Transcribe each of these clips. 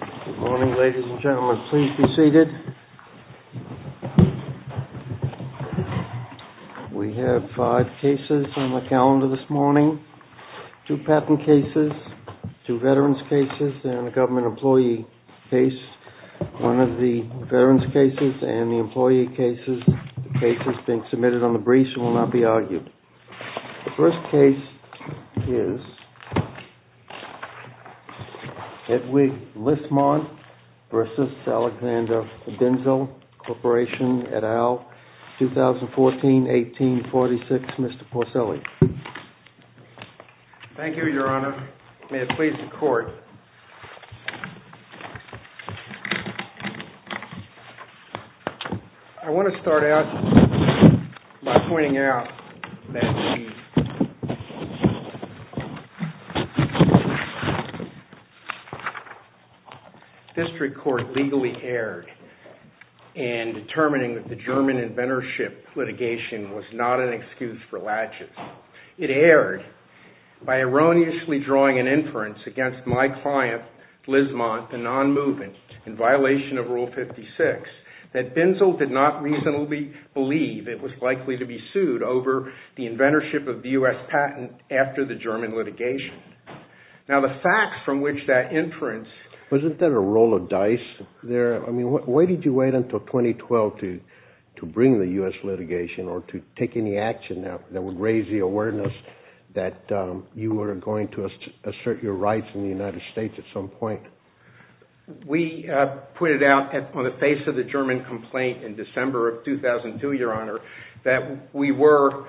Good morning, ladies and gentlemen. Please be seated. We have five cases on the calendar this morning. Two patent cases, two veterans' cases, and a government employee case. One of the veterans' cases and the employee cases. The cases being submitted on the briefs will not be argued. The first case is Hedwig Lismont v. Alexander Binzel Corporation et al., 2014-1846. Mr. Porcelli. Thank you, Your Honor. May it please the Court. I want to start out by pointing out that the district court legally erred in determining that the German inventorship litigation was not an excuse for latches. It erred by erroneously drawing an inference against my client, Lismont, the non-movement, in violation of Rule 56, that Binzel did not reasonably believe it was likely to be sued over the inventorship of the U.S. patent after the German litigation. Wasn't there a roll of dice there? I mean, why did you wait until 2012 to bring the U.S. litigation or to take any action that would raise the awareness that you were going to assert your rights in the United States at some point? We put it out on the face of the German complaint in December of 2002, Your Honor, that we were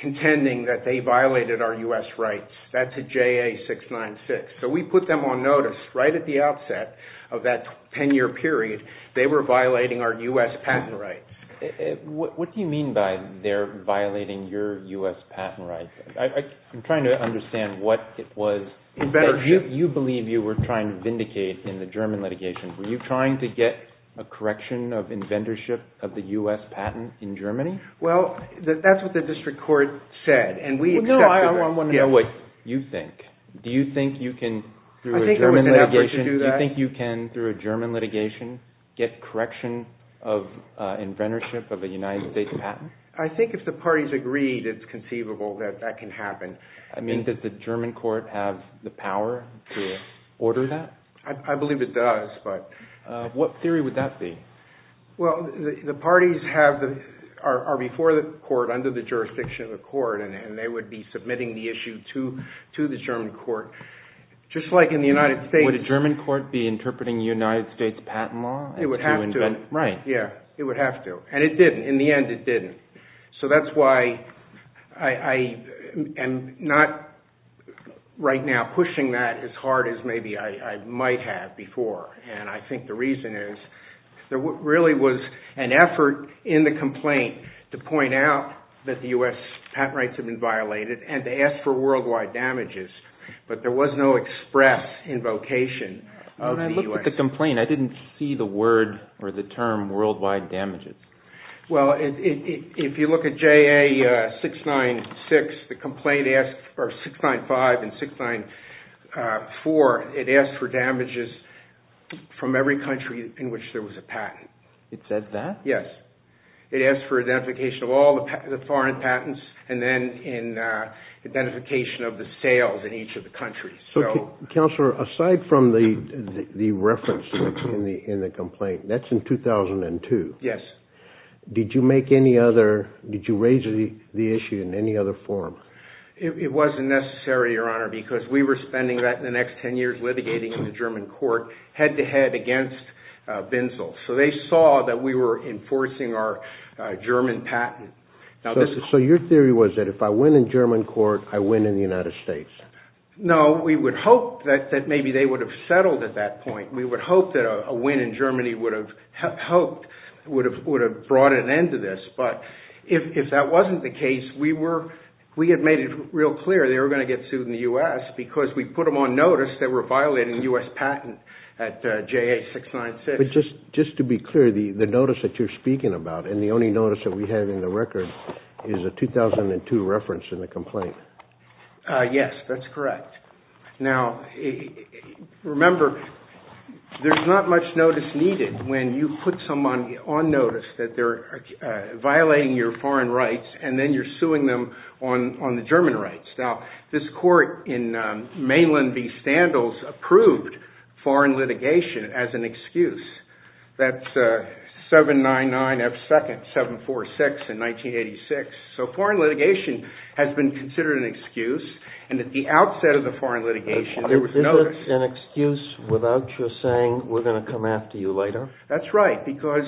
contending that they violated our U.S. rights. That's a JA-696. So we put them on notice right at the outset of that 10-year period they were violating our U.S. patent rights. What do you mean by they're violating your U.S. patent rights? I'm trying to understand what it was that you believe you were trying to vindicate in the German litigation. Were you trying to get a correction of inventorship of the U.S. patent in Germany? Well, that's what the district court said. No, I want to know what you think. Do you think you can, through a German litigation, get correction of inventorship of a United States patent? I think if the parties agreed it's conceivable that that can happen. I mean, does the German court have the power to order that? I believe it does. What theory would that be? Well, the parties are before the court, under the jurisdiction of the court, and they would be submitting the issue to the German court, just like in the United States. Would a German court be interpreting United States patent law? It would have to. Right. It would have to. And it didn't. In the end, it didn't. So that's why I am not right now pushing that as hard as maybe I might have before. And I think the reason is there really was an effort in the complaint to point out that the U.S. patent rights had been violated, and to ask for worldwide damages. But there was no express invocation of the U.S. When I looked at the complaint, I didn't see the word or the term worldwide damages. Well, if you look at JA 695 and 694, it asked for damages from every country in which there was a patent. It said that? Yes. It asked for identification of all the foreign patents, and then identification of the sales in each of the countries. Counselor, aside from the reference in the complaint, that's in 2002. Yes. Did you raise the issue in any other form? It wasn't necessary, Your Honor, because we were spending the next ten years litigating in the German court, head-to-head against Binzel. So they saw that we were enforcing our German patent. So your theory was that if I win in German court, I win in the United States? No, we would hope that maybe they would have settled at that point. We would hope that a win in Germany would have brought an end to this. But if that wasn't the case, we had made it real clear they were going to get sued in the U.S. because we put them on notice that we're violating U.S. patent at JA 696. But just to be clear, the notice that you're speaking about, and the only notice that we have in the record, is a 2002 reference in the complaint. Yes, that's correct. Now, remember, there's not much notice needed when you put someone on notice that they're violating your foreign rights, and then you're suing them on the German rights. Now, this court in Mainland v. Standles approved foreign litigation as an excuse. That's 799F2nd 746 in 1986. So foreign litigation has been considered an excuse, and at the outset of the foreign litigation, there was notice. Is this an excuse without your saying, we're going to come after you later? That's right, because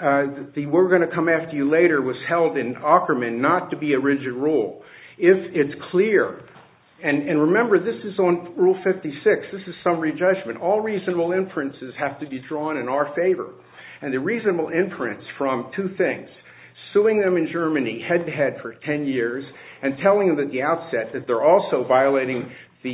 the we're going to come after you later was held in Ackermann not to be a rigid rule. If it's clear, and remember, this is on Rule 56, this is summary judgment. All reasonable inferences have to be drawn in our favor. And the reasonable inference from two things, suing them in Germany head-to-head for 10 years, and telling them at the outset that they're also violating the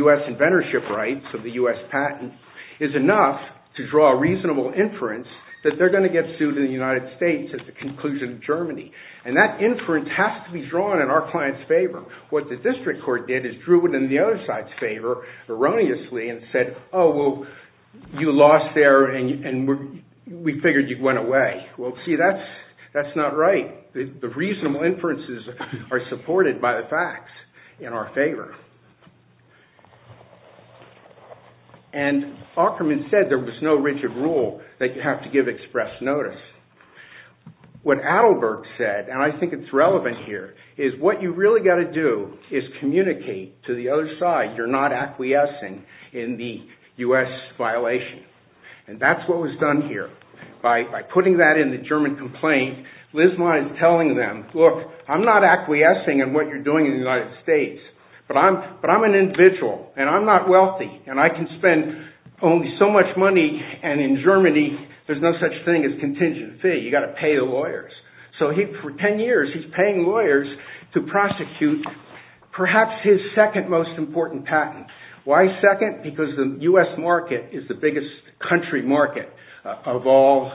U.S. inventorship rights of the U.S. patent, is enough to draw a reasonable inference that they're going to get sued in the United States at the conclusion of Germany. And that inference has to be drawn in our client's favor. What the district court did is drew it in the other side's favor erroneously and said, oh, well, you lost there and we figured you went away. Well, see, that's not right. The reasonable inferences are supported by the facts in our favor. And Ackermann said there was no rigid rule that you have to give express notice. What Adelberg said, and I think it's relevant here, is what you've really got to do is communicate to the other side you're not acquiescing in the U.S. violation. And that's what was done here. By putting that in the German complaint, Lisman is telling them, look, I'm not acquiescing in what you're doing in the United States, but I'm an individual, and I'm not wealthy, and I can spend only so much money, and in Germany, there's no such thing as contingent fee. You've got to pay the lawyers. So for 10 years, he's paying lawyers to prosecute perhaps his second most important patent. Why second? Because the U.S. market is the biggest country market of all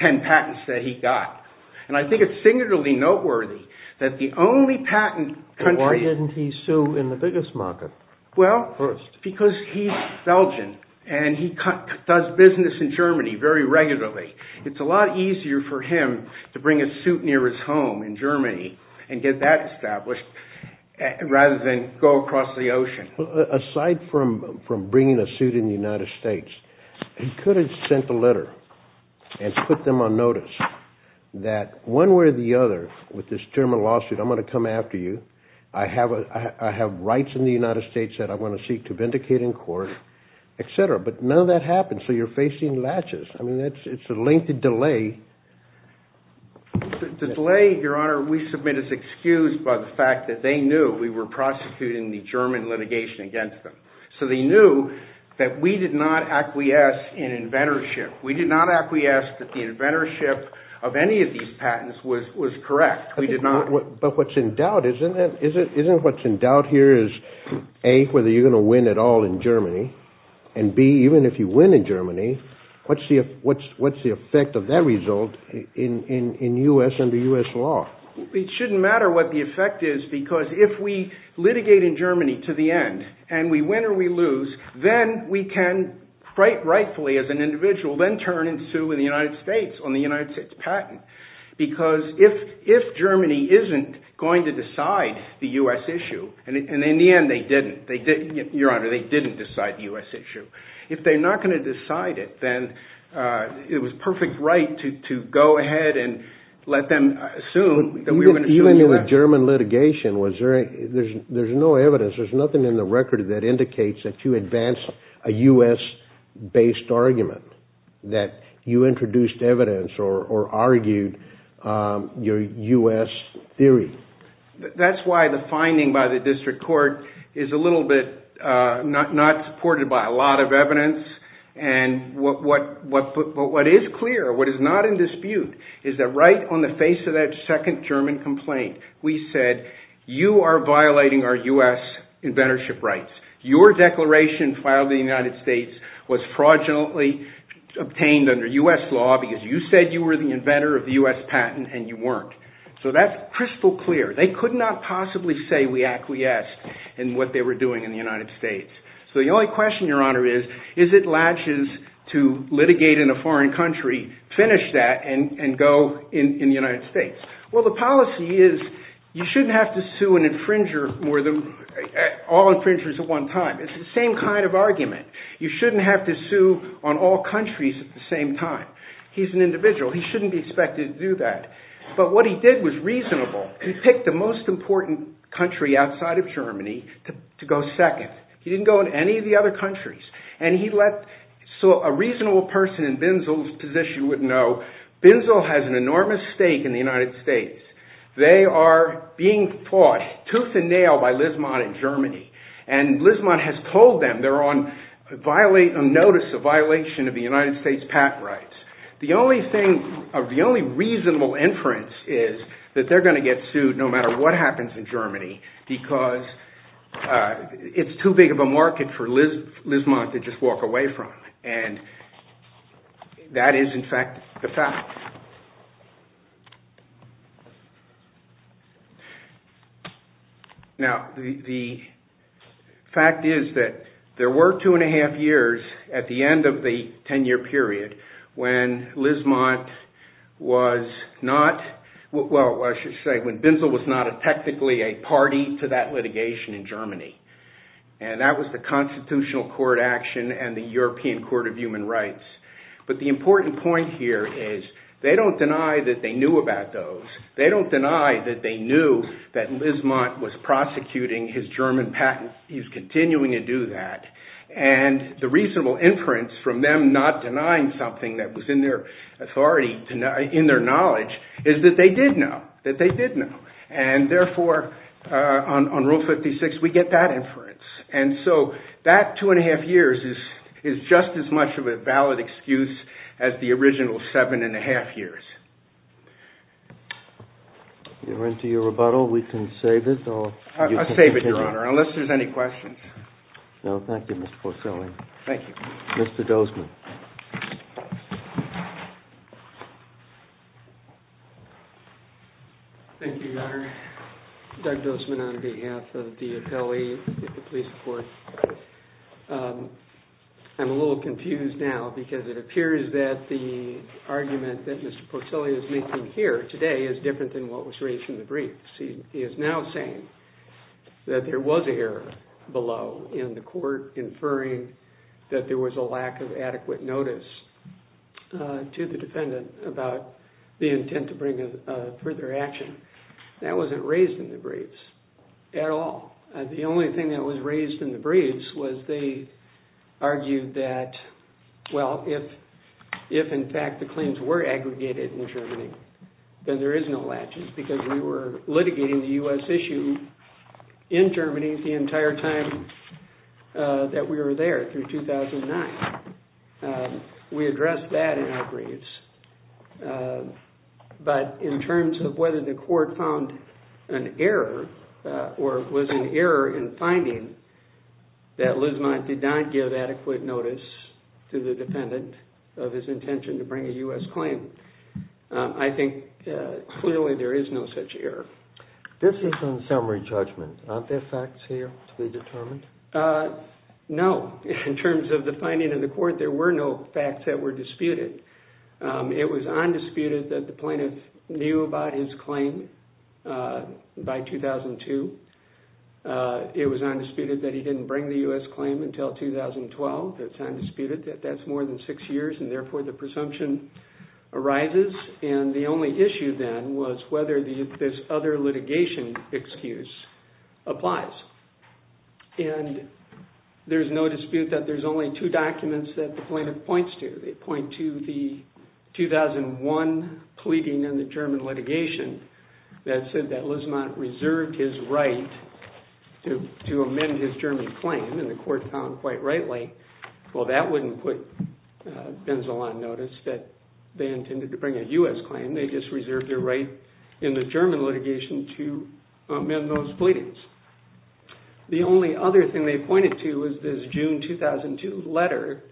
10 patents that he got. And I think it's singularly noteworthy that the only patent country— Because he's Belgian, and he does business in Germany very regularly, it's a lot easier for him to bring a suit near his home in Germany and get that established, rather than go across the ocean. Aside from bringing a suit in the United States, he could have sent a letter and put them on notice that one way or the other, with this terminal lawsuit, I'm going to come after you, I have rights in the United States that I want to seek to vindicate in court, etc. But none of that happened, so you're facing latches. I mean, it's a lengthy delay. The delay, Your Honor, we submit is excused by the fact that they knew we were prosecuting the German litigation against them. So they knew that we did not acquiesce in inventorship. We did not acquiesce that the inventorship of any of these patents was correct. But what's in doubt, isn't what's in doubt here is, A, whether you're going to win at all in Germany, and B, even if you win in Germany, what's the effect of that result in the U.S. under U.S. law? It shouldn't matter what the effect is, because if we litigate in Germany to the end, and we win or we lose, then we can, quite rightfully as an individual, then turn and sue in the United States on the United States patent. Because if Germany isn't going to decide the U.S. issue, and in the end they didn't, Your Honor, they didn't decide the U.S. issue, if they're not going to decide it, then it was perfect right to go ahead and let them assume that we were going to sue in the U.S. Even in the German litigation, there's no evidence, there's nothing in the record that indicates that you advanced a U.S.-based argument, that you introduced evidence or argued your U.S. theory. That's why the finding by the district court is a little bit not supported by a lot of evidence, and what is clear, what is not in dispute, is that right on the face of that second German complaint, we said, you are violating our U.S. inventorship rights. Your declaration filed in the United States was fraudulently obtained under U.S. law because you said you were the inventor of the U.S. patent and you weren't. So that's crystal clear. They could not possibly say we acquiesced in what they were doing in the United States. So the only question, Your Honor, is, is it latches to litigate in a foreign country, finish that, and go in the United States? Well, the policy is you shouldn't have to sue an infringer or all infringers at one time. It's the same kind of argument. You shouldn't have to sue on all countries at the same time. He's an individual. He shouldn't be expected to do that. But what he did was reasonable. He picked the most important country outside of Germany to go second. He didn't go in any of the other countries. So a reasonable person in Binzel's position would know Binzel has an enormous stake in the United States. They are being fought tooth and nail by Lisman in Germany. And Lisman has told them they're on notice of violation of the United States patent rights. The only reasonable inference is that they're going to get sued no matter what happens in Germany because it's too big of a market for Lisman to just walk away from. And that is, in fact, the fact. Now, the fact is that there were two and a half years at the end of the 10-year period when Lisman was not – And that was the Constitutional Court action and the European Court of Human Rights. But the important point here is they don't deny that they knew about those. They don't deny that they knew that Lisman was prosecuting his German patent. He's continuing to do that. And the reasonable inference from them not denying something that was in their authority, in their knowledge, is that they did know, that they did know. And therefore, on Rule 56, we get that inference. And so that two and a half years is just as much of a valid excuse as the original seven and a half years. You're into your rebuttal. We can save it or you can continue. I'll save it, Your Honor, unless there's any questions. No, thank you, Mr. Porcelli. Thank you. Mr. Dozman. Thank you, Your Honor. Doug Dozman on behalf of the appellee at the police court. I'm a little confused now because it appears that the argument that Mr. Porcelli is making here today is different than what was raised in the briefs. He is now saying that there was error below in the court, inferring that there was a lack of adequate notice to the defendant about the intent to bring further action. That wasn't raised in the briefs at all. The only thing that was raised in the briefs was they argued that, well, if in fact the claims were aggregated in Germany, then there is no latches because we were litigating the U.S. issue in Germany the entire time that we were there through 2009. We addressed that in our briefs. But in terms of whether the court found an error or was an error in finding that Lismont did not give adequate notice to the defendant of his intention to bring a U.S. claim, I think clearly there is no such error. This is in summary judgment. Aren't there facts here to be determined? No. In terms of the finding in the court, there were no facts that were disputed. It was undisputed that the plaintiff knew about his claim by 2002. It was undisputed that he didn't bring the U.S. claim until 2012. It's undisputed that that's more than six years, and therefore the presumption arises. And the only issue then was whether this other litigation excuse applies. And there's no dispute that there's only two documents that the plaintiff points to. They point to the 2001 pleading in the German litigation that said that Lismont reserved his right to amend his German claim, and the court found quite rightly, well, that wouldn't put Benzel on notice that they intended to bring a U.S. claim. They just reserved their right in the German litigation to amend those pleadings. The only other thing they pointed to was this June 2002 letter,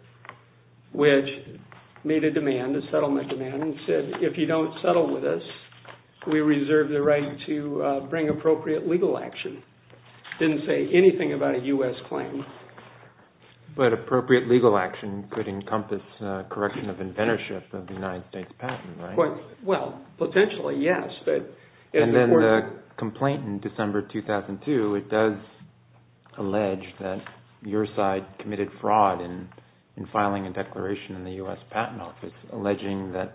which made a demand, a settlement demand, and said, if you don't settle with us, we reserve the right to bring appropriate legal action. It didn't say anything about a U.S. claim. But appropriate legal action could encompass correction of inventorship of the United States patent, right? Well, potentially, yes. And then the complaint in December 2002, it does allege that your side committed fraud in filing a declaration in the U.S. Patent Office, alleging that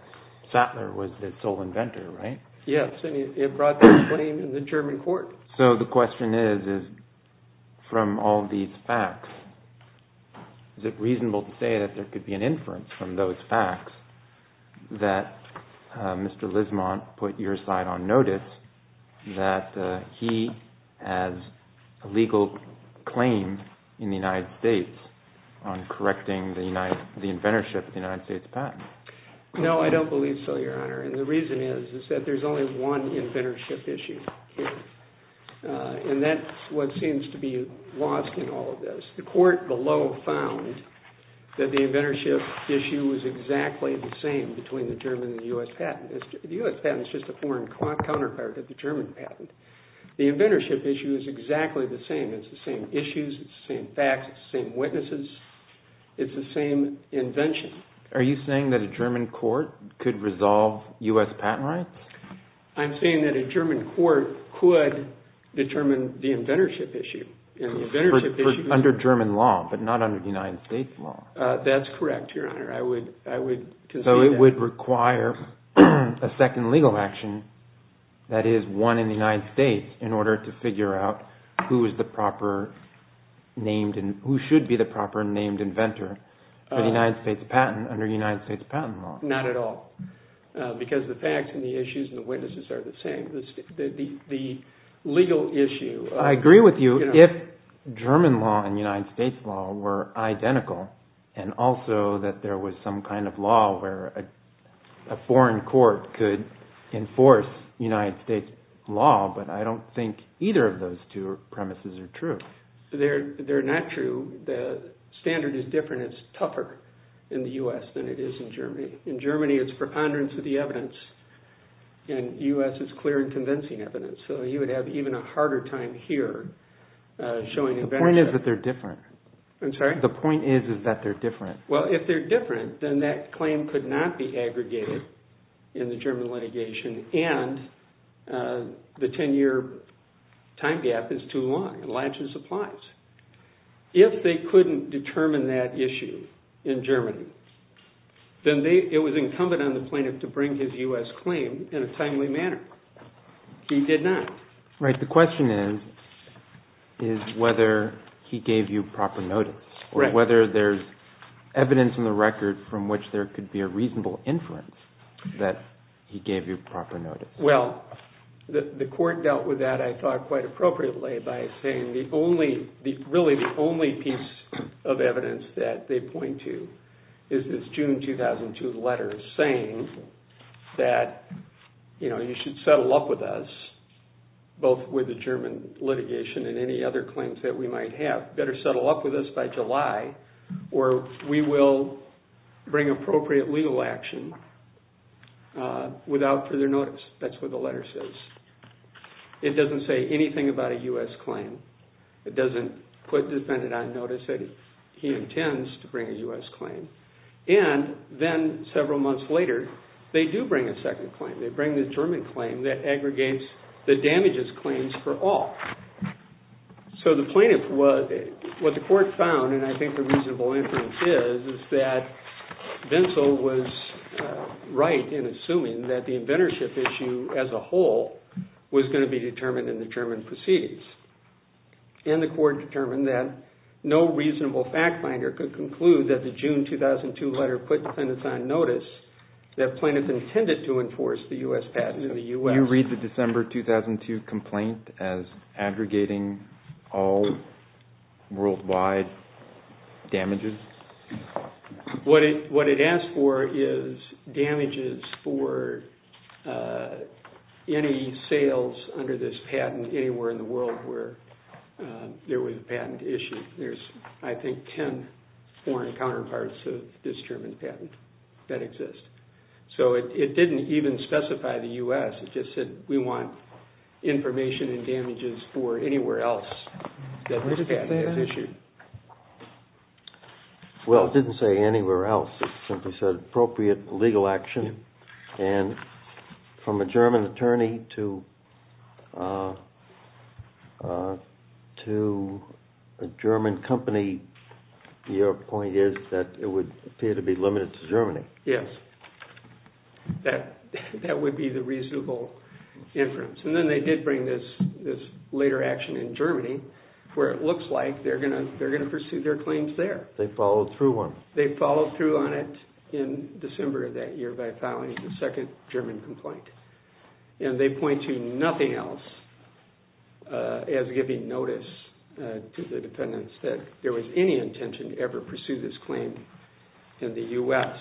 Sattler was the sole inventor, right? Yes, and it brought that claim to the German court. So the question is, from all these facts, is it reasonable to say that there could be an inference from those facts that Mr. Lismont put your side on notice that he has a legal claim in the United States on correcting the inventorship of the United States patent? No, I don't believe so, Your Honor. And the reason is that there's only one inventorship issue here. And that's what seems to be lost in all of this. The court below found that the inventorship issue was exactly the same between the German and the U.S. patent. The U.S. patent is just a foreign counterpart to the German patent. The inventorship issue is exactly the same. It's the same issues, it's the same facts, it's the same witnesses, it's the same invention. Are you saying that a German court could resolve U.S. patent rights? I'm saying that a German court could determine the inventorship issue. Under German law, but not under the United States law. That's correct, Your Honor. So it would require a second legal action, that is, one in the United States, in order to figure out who should be the proper named inventor for the United States patent under United States patent law. Not at all, because the facts and the issues and the witnesses are the same. The legal issue. I agree with you. If German law and United States law were identical, and also that there was some kind of law where a foreign court could enforce United States law, but I don't think either of those two premises are true. They're not true. The standard is different. It's tougher in the U.S. than it is in Germany. In Germany, it's preponderance of the evidence, and U.S. is clear in convincing evidence. So you would have even a harder time here showing inventorship. The point is that they're different. I'm sorry? The point is that they're different. Well, if they're different, then that claim could not be aggregated in the German litigation, and the 10-year time gap is too long. It largely applies. If they couldn't determine that issue in Germany, then it was incumbent on the plaintiff to bring his U.S. claim in a timely manner. He did not. Right. The question is whether he gave you proper notice, or whether there's evidence in the record from which there could be a reasonable inference that he gave you proper notice. Well, the court dealt with that, I thought, quite appropriately by saying the only, really the only piece of evidence that they point to is this June 2002 letter saying that, you know, you should settle up with us, both with the German litigation and any other claims that we might have. Better settle up with us by July, or we will bring appropriate legal action without further notice. That's what the letter says. It doesn't say anything about a U.S. claim. It doesn't put the defendant on notice that he intends to bring a U.S. claim. And then several months later, they do bring a second claim. They bring the German claim that aggregates the damages claims for all. So the plaintiff, what the court found, and I think the reasonable inference is, is that Bensel was right in assuming that the inventorship issue as a whole was going to be determined in the German proceedings. And the court determined that no reasonable fact finder could conclude that the June 2002 letter put defendants on notice that plaintiffs intended to enforce the U.S. patent in the U.S. Did you read the December 2002 complaint as aggregating all worldwide damages? What it asked for is damages for any sales under this patent anywhere in the world where there was a patent issue. There's, I think, ten foreign counterparts of this German patent that exist. So it didn't even specify the U.S. It just said we want information and damages for anywhere else that this patent is issued. Well, it didn't say anywhere else. It simply said appropriate legal action. And from a German attorney to a German company, your point is that it would appear to be limited to Germany. Yes. That would be the reasonable inference. And then they did bring this later action in Germany where it looks like they're going to pursue their claims there. They followed through on it. They followed through on it in December of that year by filing the second German complaint. And they point to nothing else as giving notice to the defendants that there was any intention to ever pursue this claim in the U.S.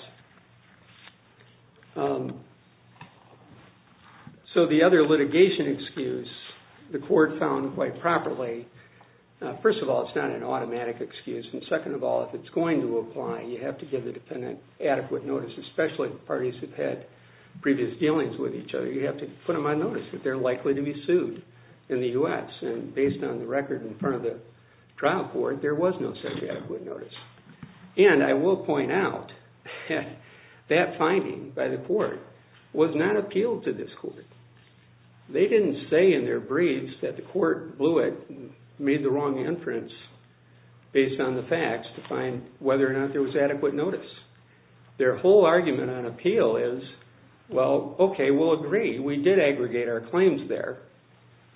So the other litigation excuse the court found quite properly, first of all, it's not an automatic excuse, and second of all, if it's going to apply, you have to give the defendant adequate notice, especially if the parties have had previous dealings with each other. You have to put them on notice that they're likely to be sued in the U.S. And based on the record in front of the trial court, there was no such adequate notice. And I will point out that finding by the court was not appealed to this court. They didn't say in their briefs that the court blew it and made the wrong inference based on the facts to find whether or not there was adequate notice. Their whole argument on appeal is, well, okay, we'll agree. We did aggregate our claims there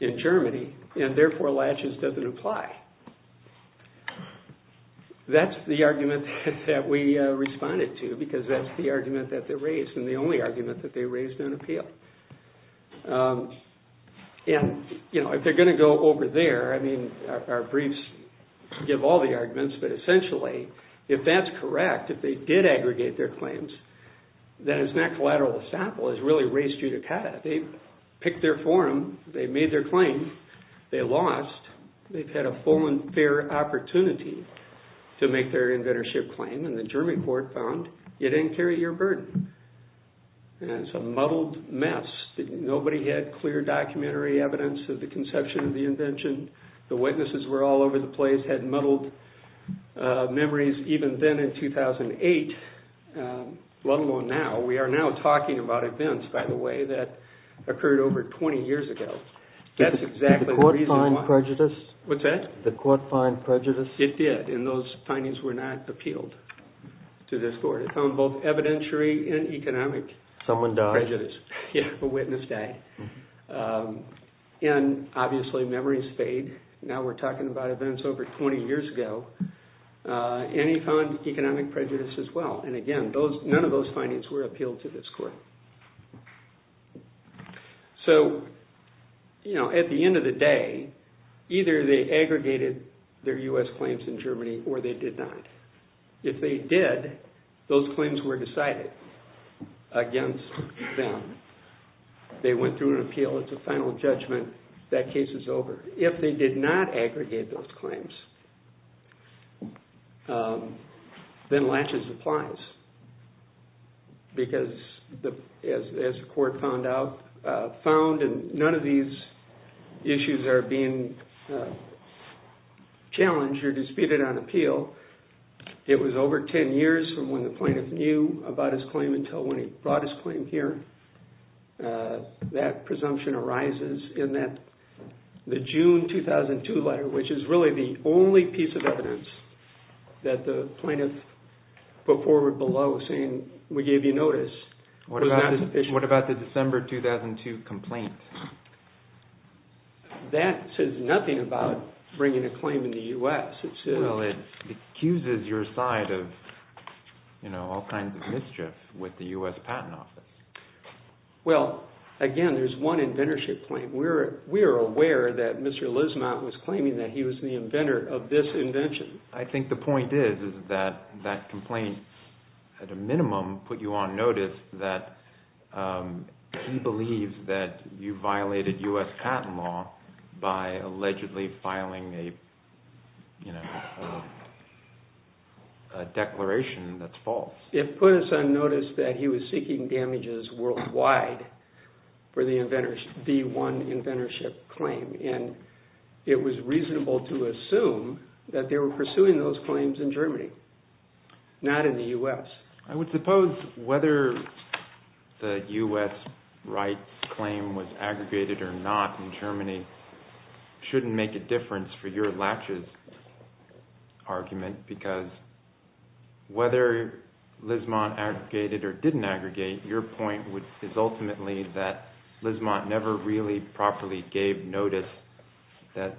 in Germany, and therefore laches doesn't apply. That's the argument that we responded to because that's the argument that they raised and the only argument that they raised on appeal. And if they're going to go over there, I mean, our briefs give all the arguments, but essentially if that's correct, if they did aggregate their claims, then it's not collateral estoppel. It's really res judicata. They picked their forum. They made their claim. They lost. They've had a full and fair opportunity to make their inventorship claim, and the German court found you didn't carry your burden. And it's a muddled mess. Nobody had clear documentary evidence of the conception of the invention. The witnesses were all over the place, had muddled memories. Even then in 2008, let alone now, we are now talking about events, by the way, that occurred over 20 years ago. That's exactly the reason why. Did the court find prejudice? What's that? Did the court find prejudice? It did, and those findings were not appealed to this court. It found both evidentiary and economic prejudice. Someone died. Yeah, a witness died. And obviously memories fade. Now we're talking about events over 20 years ago. And he found economic prejudice as well. And again, none of those findings were appealed to this court. So, you know, at the end of the day, either they aggregated their U.S. claims in Germany or they did not. If they did, those claims were decided against them. They went through an appeal. It's a final judgment. That case is over. If they did not aggregate those claims, then laches applies. Because, as the court found, none of these issues are being challenged or disputed on appeal. It was over 10 years from when the plaintiff knew about his claim until when he brought his claim here. That presumption arises in the June 2002 letter, which is really the only piece of evidence that the plaintiff put forward below saying we gave you notice. What about the December 2002 complaint? That says nothing about bringing a claim in the U.S. Well, it accuses your side of all kinds of mischief with the U.S. Patent Office. Well, again, there's one inventorship claim. We are aware that Mr. Lismont was claiming that he was the inventor of this invention. I think the point is that that complaint, at a minimum, put you on notice that he believes that you violated U.S. patent law by allegedly filing a declaration that's false. It put us on notice that he was seeking damages worldwide for the one inventorship claim. It was reasonable to assume that they were pursuing those claims in Germany, not in the U.S. I would suppose whether the U.S. rights claim was aggregated or not in Germany shouldn't make a difference for your laches argument because whether Lismont aggregated or didn't aggregate, your point is ultimately that Lismont never really properly gave notice that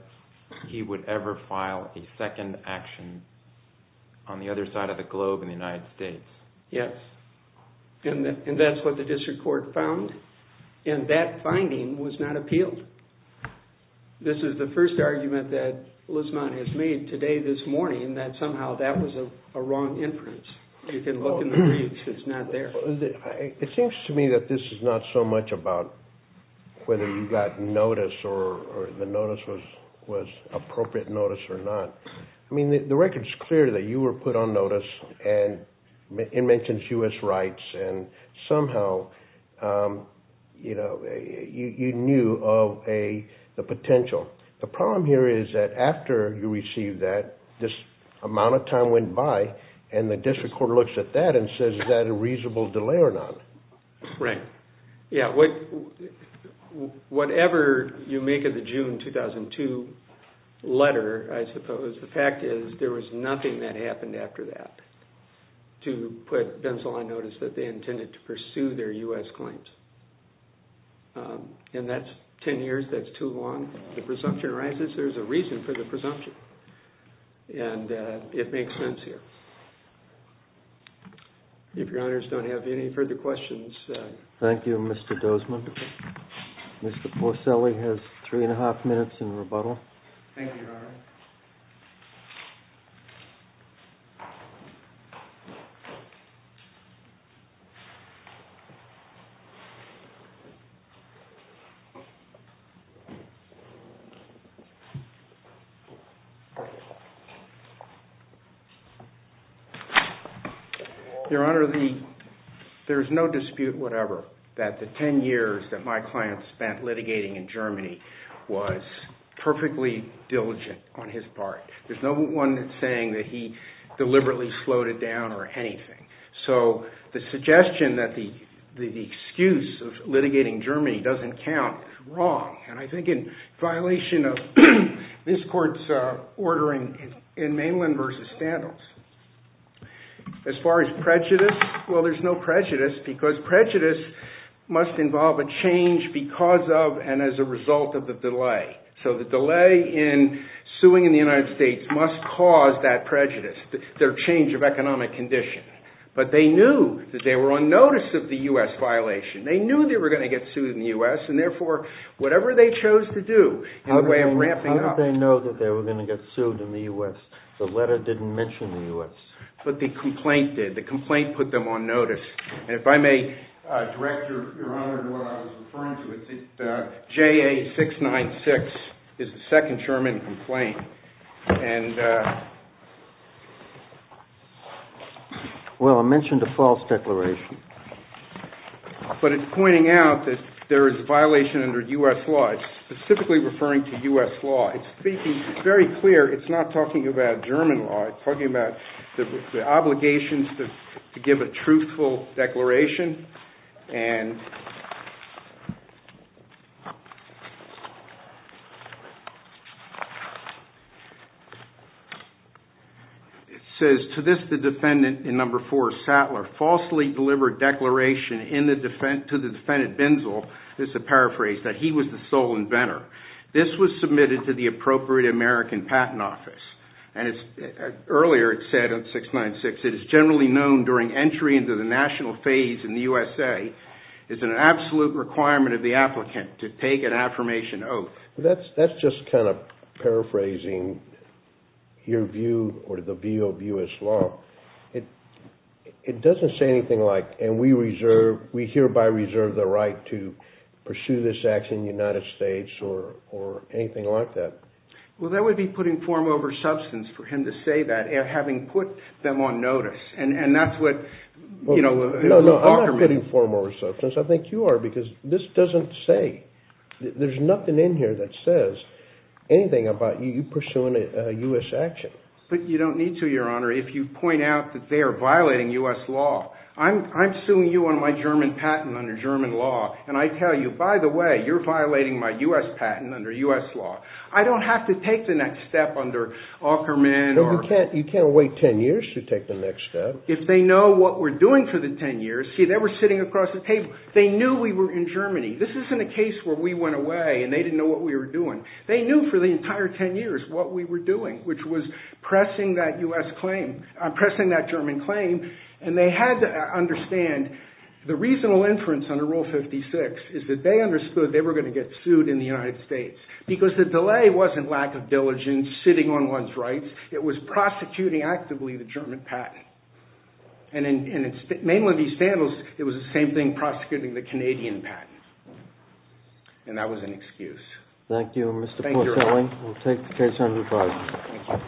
he would ever file a second action on the other side of the globe in the United States. Yes, and that's what the district court found, and that finding was not appealed. This is the first argument that Lismont has made today this morning that somehow that was a wrong inference. You can look in the briefs. It's not there. It seems to me that this is not so much about whether you got notice or the notice was appropriate notice or not. The record is clear that you were put on notice, and it mentions U.S. rights, and somehow you knew of the potential. The problem here is that after you received that, this amount of time went by, and the district court looks at that and says, is that a reasonable delay or not? Right. Whatever you make of the June 2002 letter, I suppose, the fact is there was nothing that happened after that to put Ben Salon notice that they intended to pursue their U.S. claims. In that 10 years, that's too long. The presumption arises there's a reason for the presumption, and it makes sense here. If your honors don't have any further questions. Thank you, Mr. Dozman. Mr. Porcelli has three and a half minutes in rebuttal. Thank you, your honor. Your honor, there's no dispute whatever that the 10 years that my client spent litigating in Germany was perfectly diligent on his part. There's no one saying that he deliberately slowed it down or anything. I don't know, he doesn't count wrong, and I think in violation of this court's ordering in Mainland versus Standles. As far as prejudice, well, there's no prejudice because prejudice must involve a change because of and as a result of the delay. So the delay in suing in the United States must cause that prejudice, their change of economic condition. But they knew that they were on notice of the U.S. violation. They knew they were going to get sued in the U.S., and therefore, whatever they chose to do in the way of ramping up. How did they know that they were going to get sued in the U.S.? The letter didn't mention the U.S. But the complaint did. The complaint put them on notice. And if I may, director, your honor, what I was referring to is JA-696 is the second German complaint. Well, I mentioned a false declaration. But it's pointing out that there is a violation under U.S. law. It's specifically referring to U.S. law. It's speaking, it's very clear, it's not talking about German law. It's talking about the obligations to give a truthful declaration. It says, to this the defendant in number four, Sattler, falsely delivered declaration to the defendant Binzel, this is a paraphrase, that he was the sole inventor. This was submitted to the appropriate American patent office. And earlier it said on 696, it is generally known during entry into the national phase in the U.S.A., it's an absolute requirement of the applicant to take an affirmation oath. That's just kind of paraphrasing your view, or the view of U.S. law. It doesn't say anything like, and we hereby reserve the right to pursue this action in the United States, or anything like that. Well, that would be putting form over substance for him to say that, having put them on notice. No, I'm not putting form over substance. I think you are, because this doesn't say, there's nothing in here that says anything about you pursuing a U.S. action. But you don't need to, Your Honor, if you point out that they are violating U.S. law. I'm suing you on my German patent under German law, and I tell you, by the way, you're violating my U.S. patent under U.S. law. I don't have to take the next step under Aukerman. No, you can't wait ten years to take the next step. If they know what we're doing for the ten years, see they were sitting across the table, they knew we were in Germany. This isn't a case where we went away and they didn't know what we were doing. They knew for the entire ten years what we were doing, which was pressing that U.S. claim, pressing that German claim, and they had to understand the reasonable inference under Rule 56 is that they understood they were going to get sued in the United States, because the delay wasn't lack of diligence, sitting on one's rights. It was prosecuting actively the German patent. And in mainly these scandals, it was the same thing, prosecuting the Canadian patent. And that was an excuse. Thank you, Mr. Porcelli. We'll take the case under review.